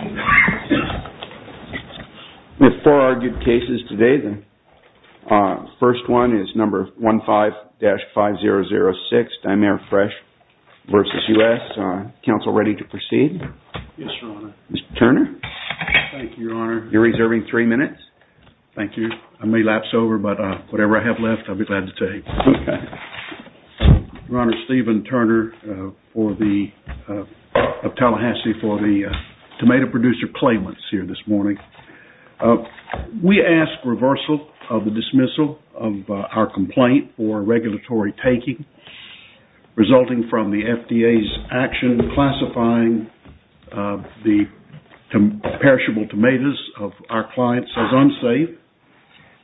We have four argued cases today. The first one is number 15-5006, Dimare Fresh v. United States. Counsel, ready to proceed? Yes, Your Honor. Mr. Turner? Thank you, Your Honor. You're reserving three minutes. Thank you. I may lapse over, but whatever I have left, I'll be glad to take. Your Honor, Stephen Turner of Tallahassee for the tomato producer claimants here this morning. We ask reversal of the dismissal of our complaint for regulatory taking resulting from the FDA's action classifying the perishable tomatoes of our clients as unsafe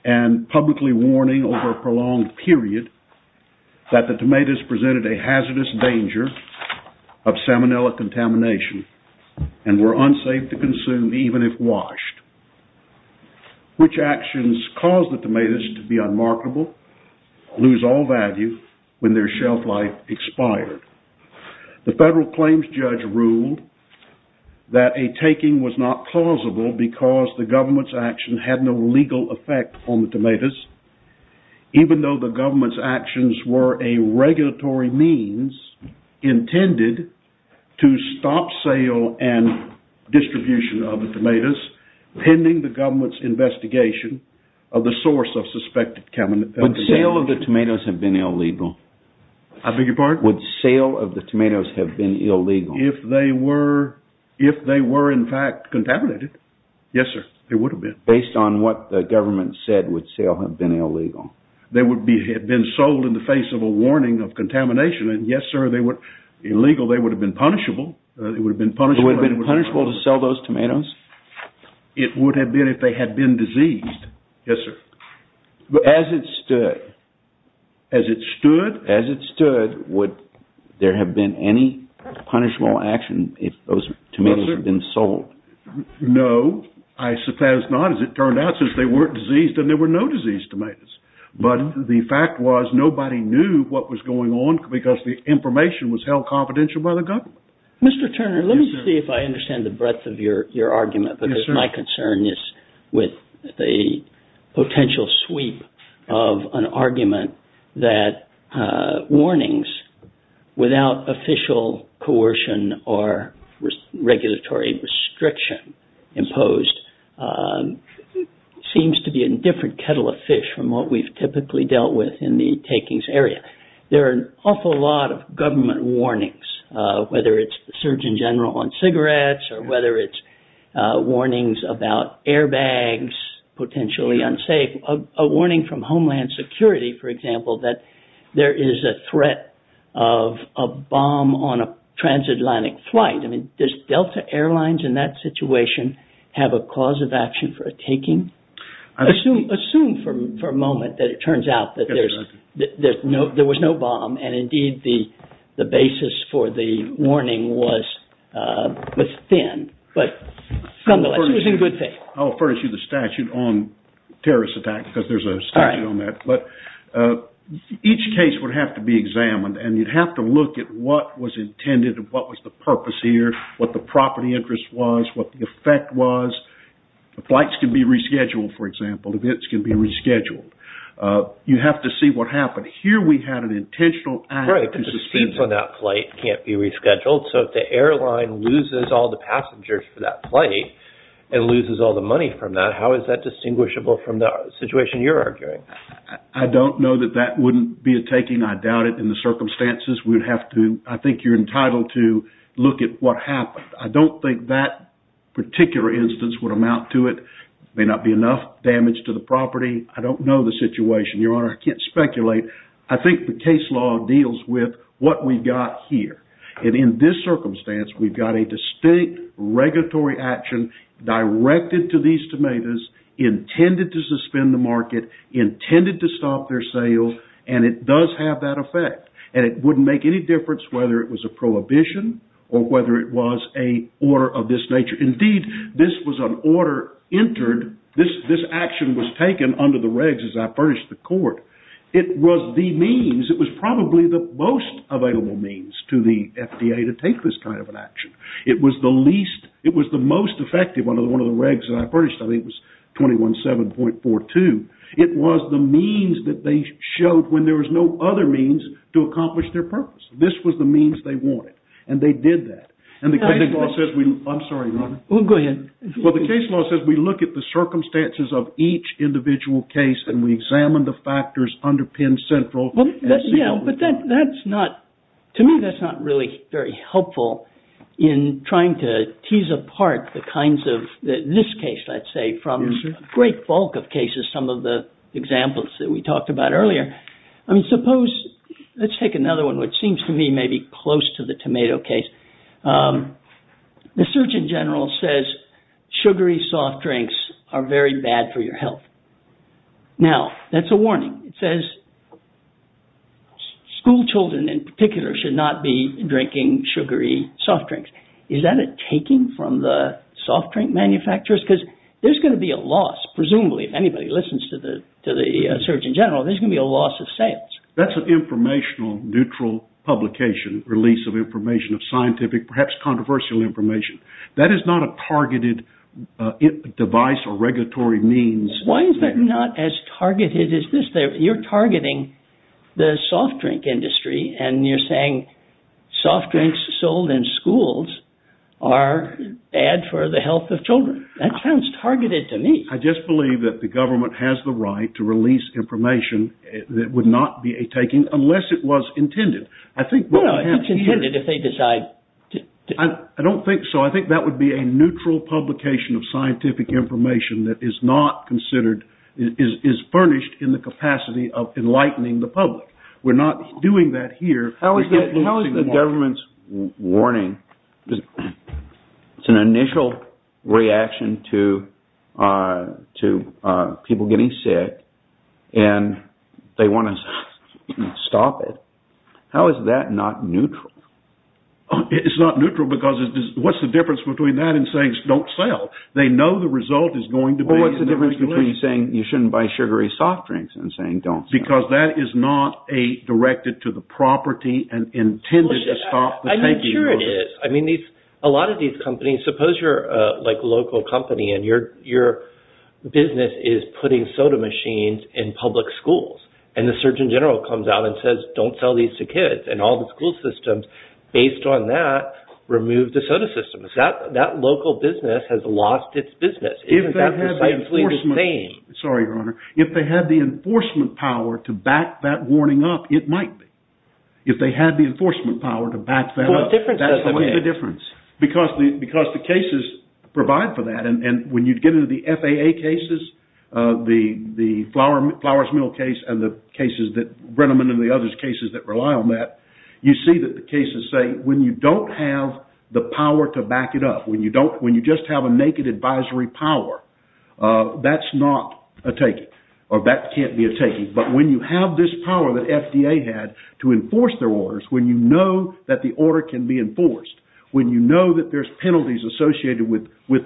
and publicly warning over a prolonged period that the tomatoes presented a hazardous danger of salmonella contamination and were unsafe to consume even if washed. Which actions caused the tomatoes to be unmarketable, lose all value when their shelf life expired? The federal claims judge ruled that a taking was not plausible because the government's action had no legal effect on the tomatoes, even though the government's actions were a regulatory means intended to stop sale and distribution of the tomatoes pending the government's investigation of the source of suspected contamination. Would sale of the tomatoes have been illegal? I beg your pardon? Would sale of the tomatoes have been illegal? If they were in fact contaminated, yes, sir, they would have been. Based on what the government said, would sale have been illegal? They would have been sold in the face of a warning of contamination, and yes, sir, illegal, they would have been punishable. It would have been punishable to sell those tomatoes? It would have been if they had been diseased, yes, sir. As it stood? As it stood? Would there have been any punishable action if those tomatoes had been sold? No, I suppose not, as it turned out, since they weren't diseased and there were no diseased tomatoes. But the fact was nobody knew what was going on because the information was held confidential by the government. Mr. Turner, let me see if I understand the breadth of your argument because my concern is with the potential sweep of an argument that warnings without official coercion or regulatory restriction imposed seems to be a different kettle of fish from what we've typically dealt with in the takings area. There are an awful lot of government warnings, whether it's the Surgeon General on cigarettes or whether it's warnings about airbags potentially unsafe. A warning from Homeland Security, for example, that there is a threat of a bomb on a transatlantic flight. I mean, does Delta Airlines in that situation have a cause of action for a taking? Assume for a moment that it turns out that there was no bomb and indeed the basis for the warning was thin, but nonetheless it was in good faith. I'll furnish you the statute on terrorist attacks because there's a statute on that. But each case would have to be examined and you'd have to look at what was intended and what was the purpose here, what the property interest was, what the effect was. The flights can be rescheduled, for example. Events can be rescheduled. You have to see what happened. Here we had an intentional act. Right, but the seats on that flight can't be rescheduled. So if the airline loses all the passengers for that flight and loses all the money from that, how is that distinguishable from the situation you're arguing? I don't know that that wouldn't be a taking. I doubt it. In the circumstances, I think you're entitled to look at what happened. I don't think that particular instance would amount to it. It may not be enough damage to the property. I don't know the situation, Your Honor. I can't speculate. I think the case law deals with what we've got here. And in this circumstance, we've got a distinct regulatory action directed to these tomatoes, intended to suspend the market, intended to stop their sale, and it does have that effect. And it wouldn't make any difference whether it was a prohibition or whether it was an order of this nature. Indeed, this was an order entered. This action was taken under the regs as I furnished the court. It was the means, it was probably the most available means to the FDA to take this kind of an action. It was the least, it was the most effective under one of the regs that I furnished. I think it was 21-7.42. It was the means that they showed when there was no other means to accomplish their purpose. This was the means they wanted. And they did that. I'm sorry, Your Honor. Go ahead. Well, the case law says we look at the circumstances of each individual case and we examine the factors underpin central. Yeah, but that's not, to me, that's not really very helpful in trying to tease apart the kinds of, in this case, let's say, from a great bulk of cases, some of the examples that we talked about earlier. I mean, suppose, let's take another one which seems to me maybe close to the tomato case. The Surgeon General says sugary soft drinks are very bad for your health. Now, that's a warning. It says school children in particular should not be drinking sugary soft drinks. Is that a taking from the soft drink manufacturers? Because there's going to be a loss, presumably, if anybody listens to the Surgeon General, there's going to be a loss of sales. That's an informational, neutral publication, release of information, of scientific, perhaps controversial information. That is not a targeted device or regulatory means. Why is that not as targeted as this? You're targeting the soft drink industry and you're saying soft drinks sold in schools are bad for the health of children. That sounds targeted to me. I just believe that the government has the right to release information that would not be a taking unless it was intended. It's intended if they decide to. I don't think so. I think that would be a neutral publication of scientific information that is not considered, is furnished in the capacity of enlightening the public. We're not doing that here. How is the government's warning, it's an initial reaction to people getting sick and they want to stop it. How is that not neutral? It's not neutral because what's the difference between that and saying don't sell? They know the result is going to be in the regulations. What's the difference between saying you shouldn't buy sugary soft drinks and saying don't sell? Because that is not directed to the property and intended to stop the taking. I'm sure it is. A lot of these companies, suppose you're a local company and your business is putting soda machines in public schools. And the Surgeon General comes out and says don't sell these to kids. And all the school systems, based on that, remove the soda systems. That local business has lost its business. Isn't that precisely the same? Sorry, Your Honor. If they had the enforcement power to back that warning up, it might be. If they had the enforcement power to back that up. What difference does that make? What's the difference? Because the cases provide for that. And when you get into the FAA cases, the Flowers Mill case and the cases that Brenneman and the others cases that rely on that, you see that the cases say when you don't have the power to back it up, when you just have a naked advisory power, that's not a taking. Or that can't be a taking. But when you have this power that FDA had to enforce their orders, when you know that the order can be enforced, when you know that there's penalties associated with what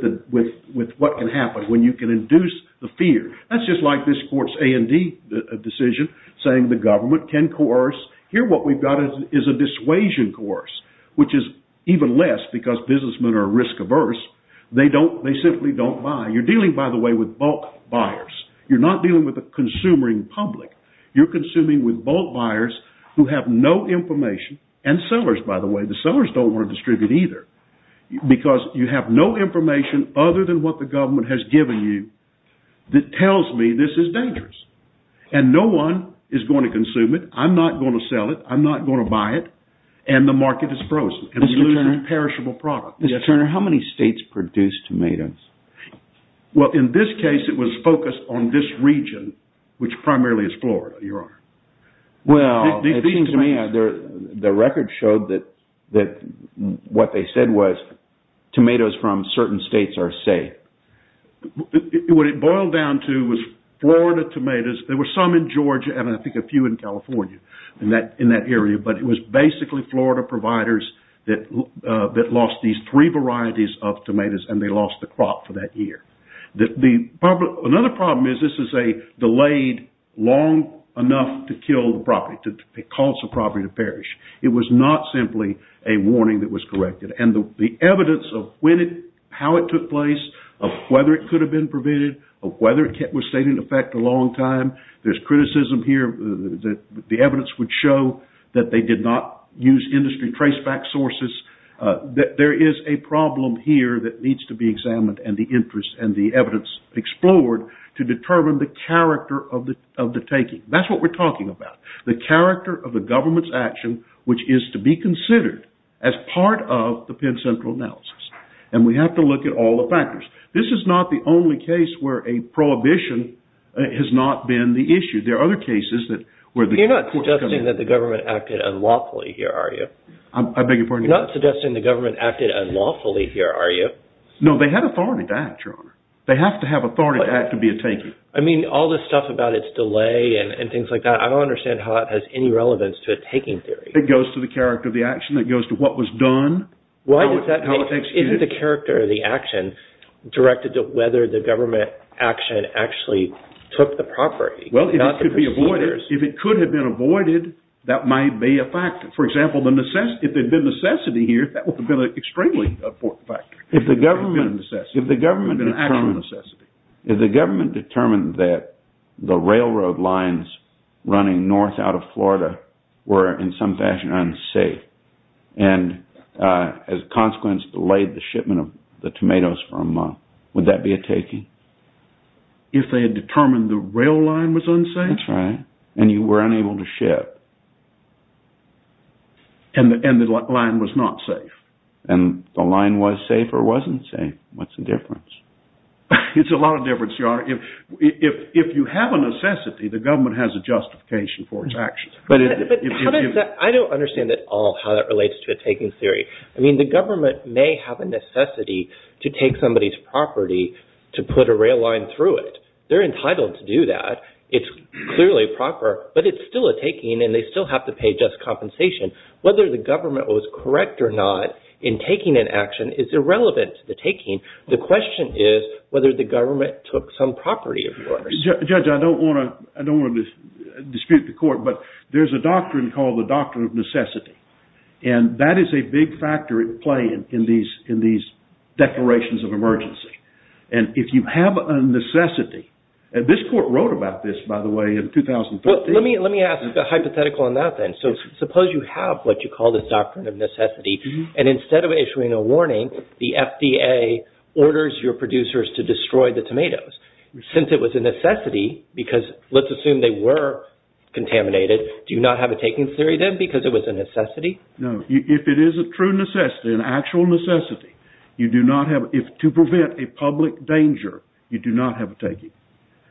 can happen, when you can induce the fear, that's just like this court's A&D decision saying the government can coerce. Here what we've got is a dissuasion coerce, which is even less because businessmen are risk averse. They simply don't buy. You're dealing, by the way, with bulk buyers. You're not dealing with a consumer in public. You're consuming with bulk buyers who have no information and sellers, by the way. The sellers don't want to distribute either because you have no information other than what the government has given you that tells me this is dangerous. And no one is going to consume it. I'm not going to sell it. I'm not going to buy it. And the market is frozen. It's a perishable product. Mr. Turner, how many states produce tomatoes? Well, in this case, it was focused on this region, which primarily is Florida, Your Honor. Well, it seems to me the record showed that what they said was tomatoes from certain states are safe. What it boiled down to was Florida tomatoes. There were some in Georgia and I think a few in California in that area, but it was basically Florida providers that lost these three varieties of tomatoes and they lost the crop for that year. Another problem is this is a delayed long enough to kill the property, to cause the property to perish. It was not simply a warning that was corrected. And the evidence of how it took place, of whether it could have been prevented, of whether it stayed in effect a long time, There's criticism here that the evidence would show that they did not use industry traceback sources. There is a problem here that needs to be examined and the interest and the evidence explored to determine the character of the taking. That's what we're talking about. The character of the government's action, which is to be considered as part of the Penn Central analysis. And we have to look at all the factors. This is not the only case where a prohibition has not been the issue. There are other cases where the courts come in. You're not suggesting that the government acted unlawfully here, are you? I beg your pardon? You're not suggesting the government acted unlawfully here, are you? No, they have authority to act, Your Honor. They have to have authority to act to be a taker. I mean, all this stuff about its delay and things like that, I don't understand how it has any relevance to a taking theory. It goes to the character of the action. It goes to what was done. Why does that make sense? Isn't the character of the action directed to whether the government action actually took the property? Well, if it could have been avoided, that might be a factor. For example, if there had been necessity here, that would have been an extremely important factor. If the government determined that the railroad lines running north out of Florida were in some fashion unsafe and, as a consequence, delayed the shipment of the tomatoes for a month, would that be a taking? If they had determined the rail line was unsafe? That's right. And you were unable to ship. And the line was not safe. And the line was safe or wasn't safe. What's the difference? It's a lot of difference, Your Honor. If you have a necessity, the government has a justification for its actions. I don't understand at all how that relates to a taking theory. I mean, the government may have a necessity to take somebody's property to put a rail line through it. They're entitled to do that. It's clearly proper, but it's still a taking and they still have to pay just compensation. Whether the government was correct or not in taking an action is irrelevant to the taking. The question is whether the government took some property, of course. Judge, I don't want to dispute the court, but there's a doctrine called the doctrine of necessity. And that is a big factor at play in these declarations of emergency. And if you have a necessity, and this court wrote about this, by the way, in 2013. Well, let me ask a hypothetical on that then. So suppose you have what you call the doctrine of necessity, and instead of issuing a warning, the FDA orders your producers to destroy the tomatoes. Since it was a necessity, because let's assume they were contaminated, do you not have a taking theory then because it was a necessity? No. If it is a true necessity, an actual necessity, you do not have – to prevent a public danger, you do not have a taking.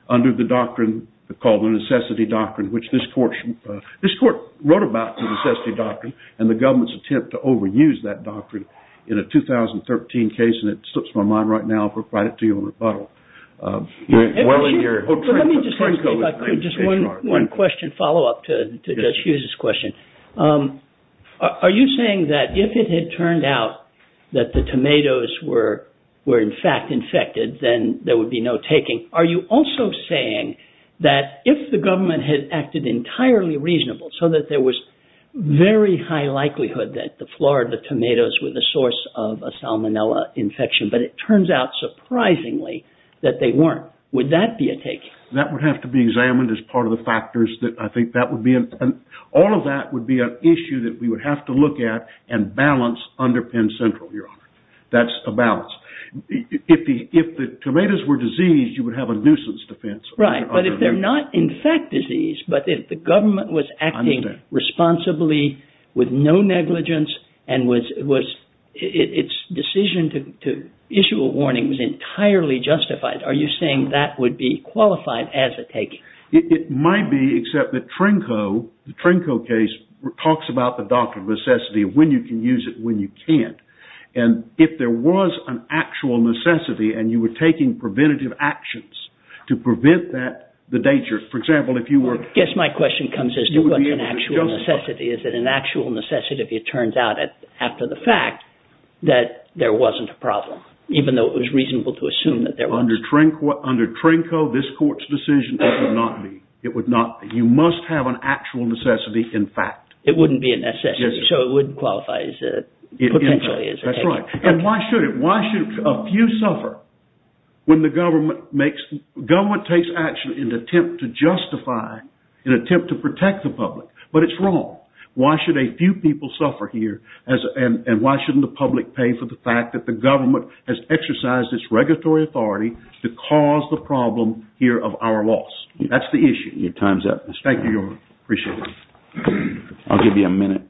Under the doctrine called the necessity doctrine, which this court – this court wrote about the necessity doctrine and the government's attempt to overuse that doctrine in a 2013 case, and it slips my mind right now, but I'll provide it to you in rebuttal. Well, let me just say one question, follow-up to Judge Hughes' question. Are you saying that if it had turned out that the tomatoes were in fact infected, then there would be no taking? Are you also saying that if the government had acted entirely reasonably, so that there was very high likelihood that the Florida tomatoes were the source of a salmonella infection, but it turns out surprisingly that they weren't, would that be a taking? That would have to be examined as part of the factors that I think that would be – all of that would be an issue that we would have to look at and balance under Penn Central, Your Honor. That's a balance. If the tomatoes were diseased, you would have a nuisance defense. Right, but if they're not in fact diseased, but if the government was acting responsibly with no negligence and its decision to issue a warning was entirely justified, are you saying that would be qualified as a taking? It might be, except that Trinco, the Trinco case, talks about the doctrine of necessity of when you can use it and when you can't. And if there was an actual necessity and you were taking preventative actions to prevent the danger, for example, if you were – I guess my question comes as to what an actual necessity is. Is it an actual necessity if it turns out after the fact that there wasn't a problem, even though it was reasonable to assume that there was? Under Trinco, this court's decision, it would not be. It would not be. You must have an actual necessity in fact. It wouldn't be a necessity, so it wouldn't qualify potentially as a taking. That's right. And why should it? Why should a few suffer when the government makes – government takes action in an attempt to justify, in an attempt to protect the public? But it's wrong. Why should a few people suffer here and why shouldn't the public pay for the fact that the government has exercised its regulatory authority to cause the problem here of our loss? That's the issue. Your time's up. Thank you, Your Honor. Appreciate it. I'll give you a minute.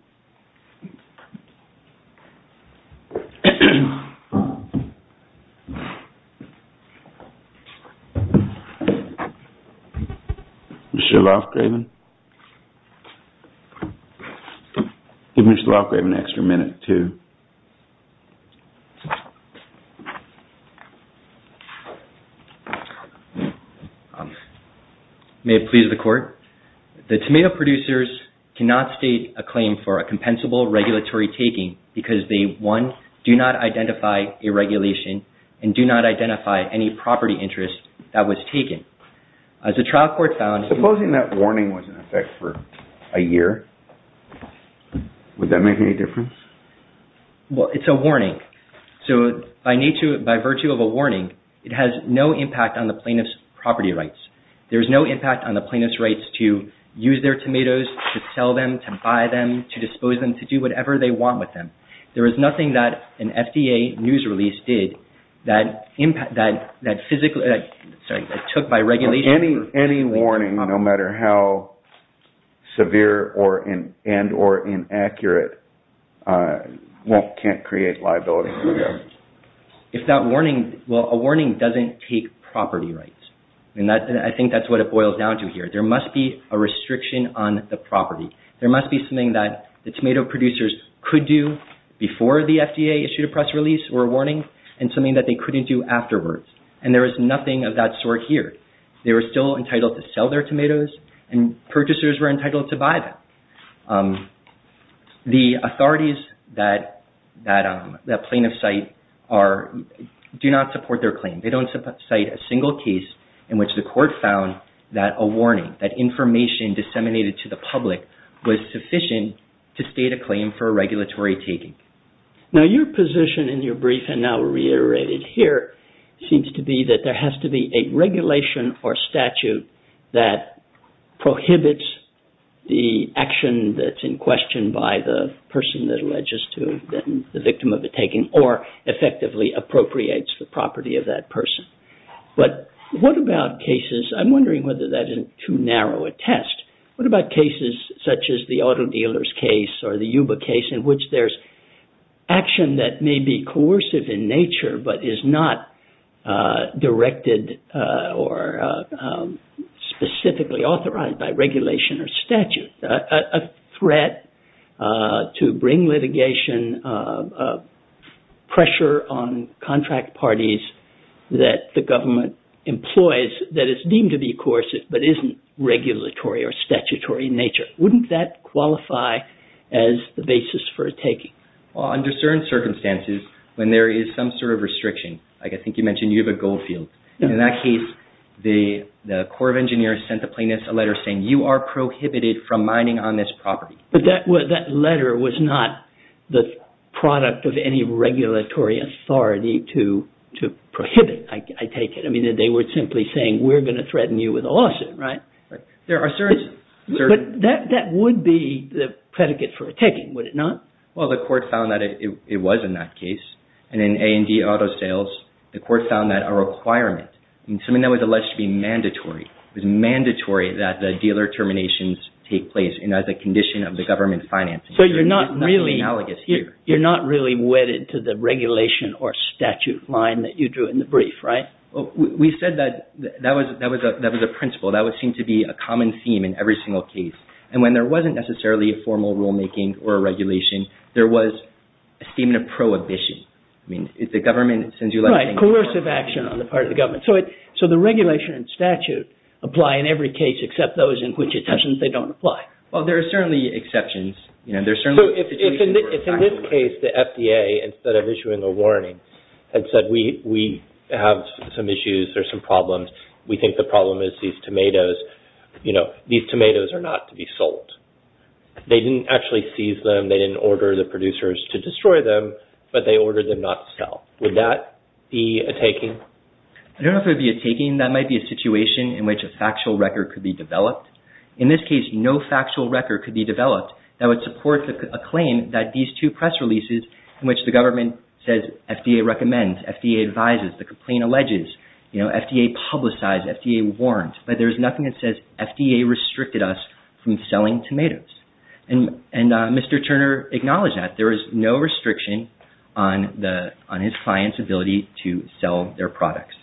Mr. Lofgraven? Give Mr. Lofgraven an extra minute to – May it please the Court? The tomato producers cannot state a claim for a compensable regulatory taking because they, one, do not identify a regulation and do not identify any property interest that was taken. As the trial court found – Supposing that warning was in effect for a year, would that make any difference? Well, it's a warning. So by virtue of a warning, it has no impact on the plaintiff's property rights. There's no impact on the plaintiff's rights to use their tomatoes, to sell them, to buy them, to dispose them, to do whatever they want with them. There is nothing that an FDA news release did that took by regulation – Any warning, no matter how severe and or inaccurate, can't create liability? If that warning – well, a warning doesn't take property rights. I think that's what it boils down to here. There must be a restriction on the property. There must be something that the tomato producers could do before the FDA issued a press release or a warning and something that they couldn't do afterwards. And there is nothing of that sort here. They were still entitled to sell their tomatoes and purchasers were entitled to buy them. The authorities that plaintiffs cite do not support their claim. They don't cite a single case in which the court found that a warning, that information disseminated to the public was sufficient to state a claim for a regulatory taking. Now, your position in your brief and now reiterated here seems to be that there has to be a regulation or statute that prohibits the action that's in question by the person that alleges to have been the victim of a taking or effectively appropriates the property of that person. But what about cases – I'm wondering whether that isn't too narrow a test. What about cases such as the auto dealers case or the Yuba case in which there's action that may be coercive in nature but is not directed or specifically authorized by regulation or statute? A threat to bring litigation, pressure on contract parties that the government employs that is deemed to be coercive but isn't regulatory or statutory in nature. Wouldn't that qualify as the basis for a taking? Well, under certain circumstances when there is some sort of restriction, like I think you mentioned Yuba Goldfield. In that case, the Corps of Engineers sent the plaintiffs a letter saying you are prohibited from mining on this property. But that letter was not the product of any regulatory authority to prohibit, I take it. I mean, they were simply saying we're going to threaten you with a lawsuit, right? There are certain – But that would be the predicate for a taking, would it not? Well, the court found that it was in that case. And in A&D Auto Sales, the court found that a requirement, something that was alleged to be mandatory, it was mandatory that the dealer terminations take place and as a condition of the government financing. So you're not really wedded to the regulation or statute line that you drew in the brief, right? We said that that was a principle. That would seem to be a common theme in every single case. And when there wasn't necessarily a formal rulemaking or regulation, there was a theme of prohibition. I mean, if the government sends you a letter saying – Right, coercive action on the part of the government. So the regulation and statute apply in every case except those in which it doesn't, they don't apply. Well, there are certainly exceptions. So if in this case the FDA, instead of issuing a warning, had said we have some issues or some problems, we think the problem is these tomatoes, you know, these tomatoes are not to be sold. They didn't actually seize them, they didn't order the producers to destroy them, but they ordered them not to sell. Would that be a taking? I don't know if it would be a taking. That might be a situation in which a factual record could be developed. In this case, no factual record could be developed that would support a claim that these two press releases in which the government says FDA recommends, FDA advises, the complaint alleges, you know, FDA publicized, FDA warrants, but there's nothing that says FDA restricted us from selling tomatoes. And Mr. Turner acknowledged that. There is no restriction on his client's ability to sell their products.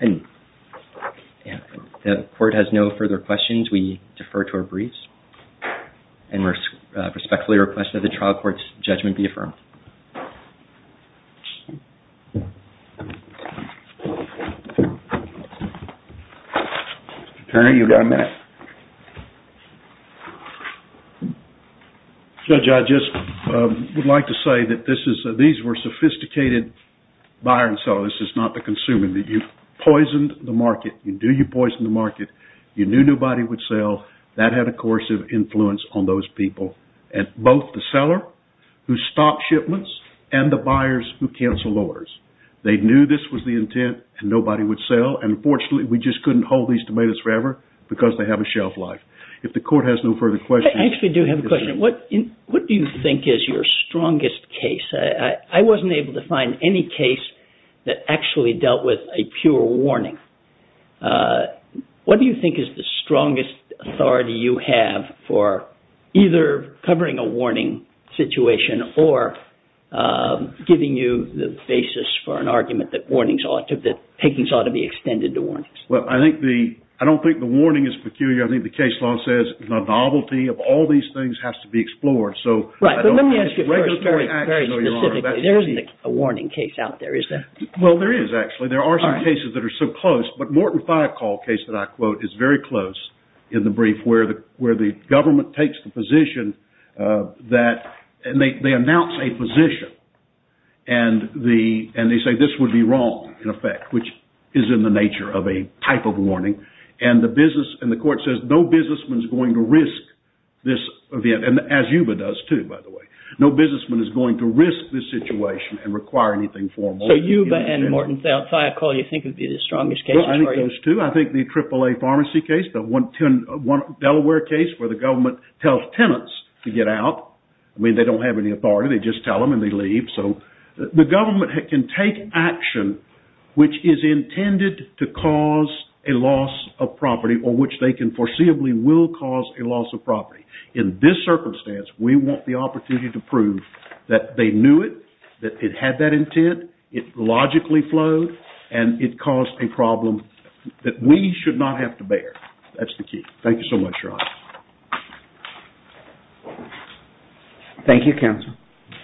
The court has no further questions. We defer to our briefs and respectfully request that the trial court's judgment be affirmed. Mr. Turner, you've got a minute. Judge, I just would like to say that these were sophisticated buyers and sellers. This is not the consumer. You poisoned the market. You knew you poisoned the market. You knew nobody would sell. That had a coercive influence on those people. And both the seller, who stopped shipments, and the buyers who canceled orders. They knew this was the intent and nobody would sell. And fortunately, we just couldn't hold these tomatoes forever because they have a shelf life. If the court has no further questions... I actually do have a question. What do you think is your strongest case? I wasn't able to find any case that actually dealt with a pure warning. What do you think is the strongest authority you have for either covering a warning situation or giving you the basis for an argument that takings ought to be extended to warnings? Well, I don't think the warning is peculiar. I think the case law says the novelty of all these things has to be explored. Right, but let me ask you first, very specifically. There isn't a warning case out there, is there? Well, there is actually. There are some cases that are so close. But Morton-Thiokol case that I quote is very close in the brief where the government takes the position and they announce a position and they say this would be wrong, in effect, which is in the nature of a type of warning. And the court says no businessman is going to risk this event, as Yuba does too, by the way. No businessman is going to risk this situation and require anything formal. So Yuba and Morton-Thiokol you think would be the strongest cases? I think those two. I think the AAA pharmacy case, Delaware case where the government tells tenants to get out. I mean, they don't have any authority. They just tell them and they leave. So the government can take action which is intended to cause a loss of property or which they can foreseeably will cause a loss of property. In this circumstance, we want the opportunity to prove that they knew it, that it had that intent, and it caused a problem that we should not have to bear. That's the key. Thank you so much, Ron. Thank you, counsel.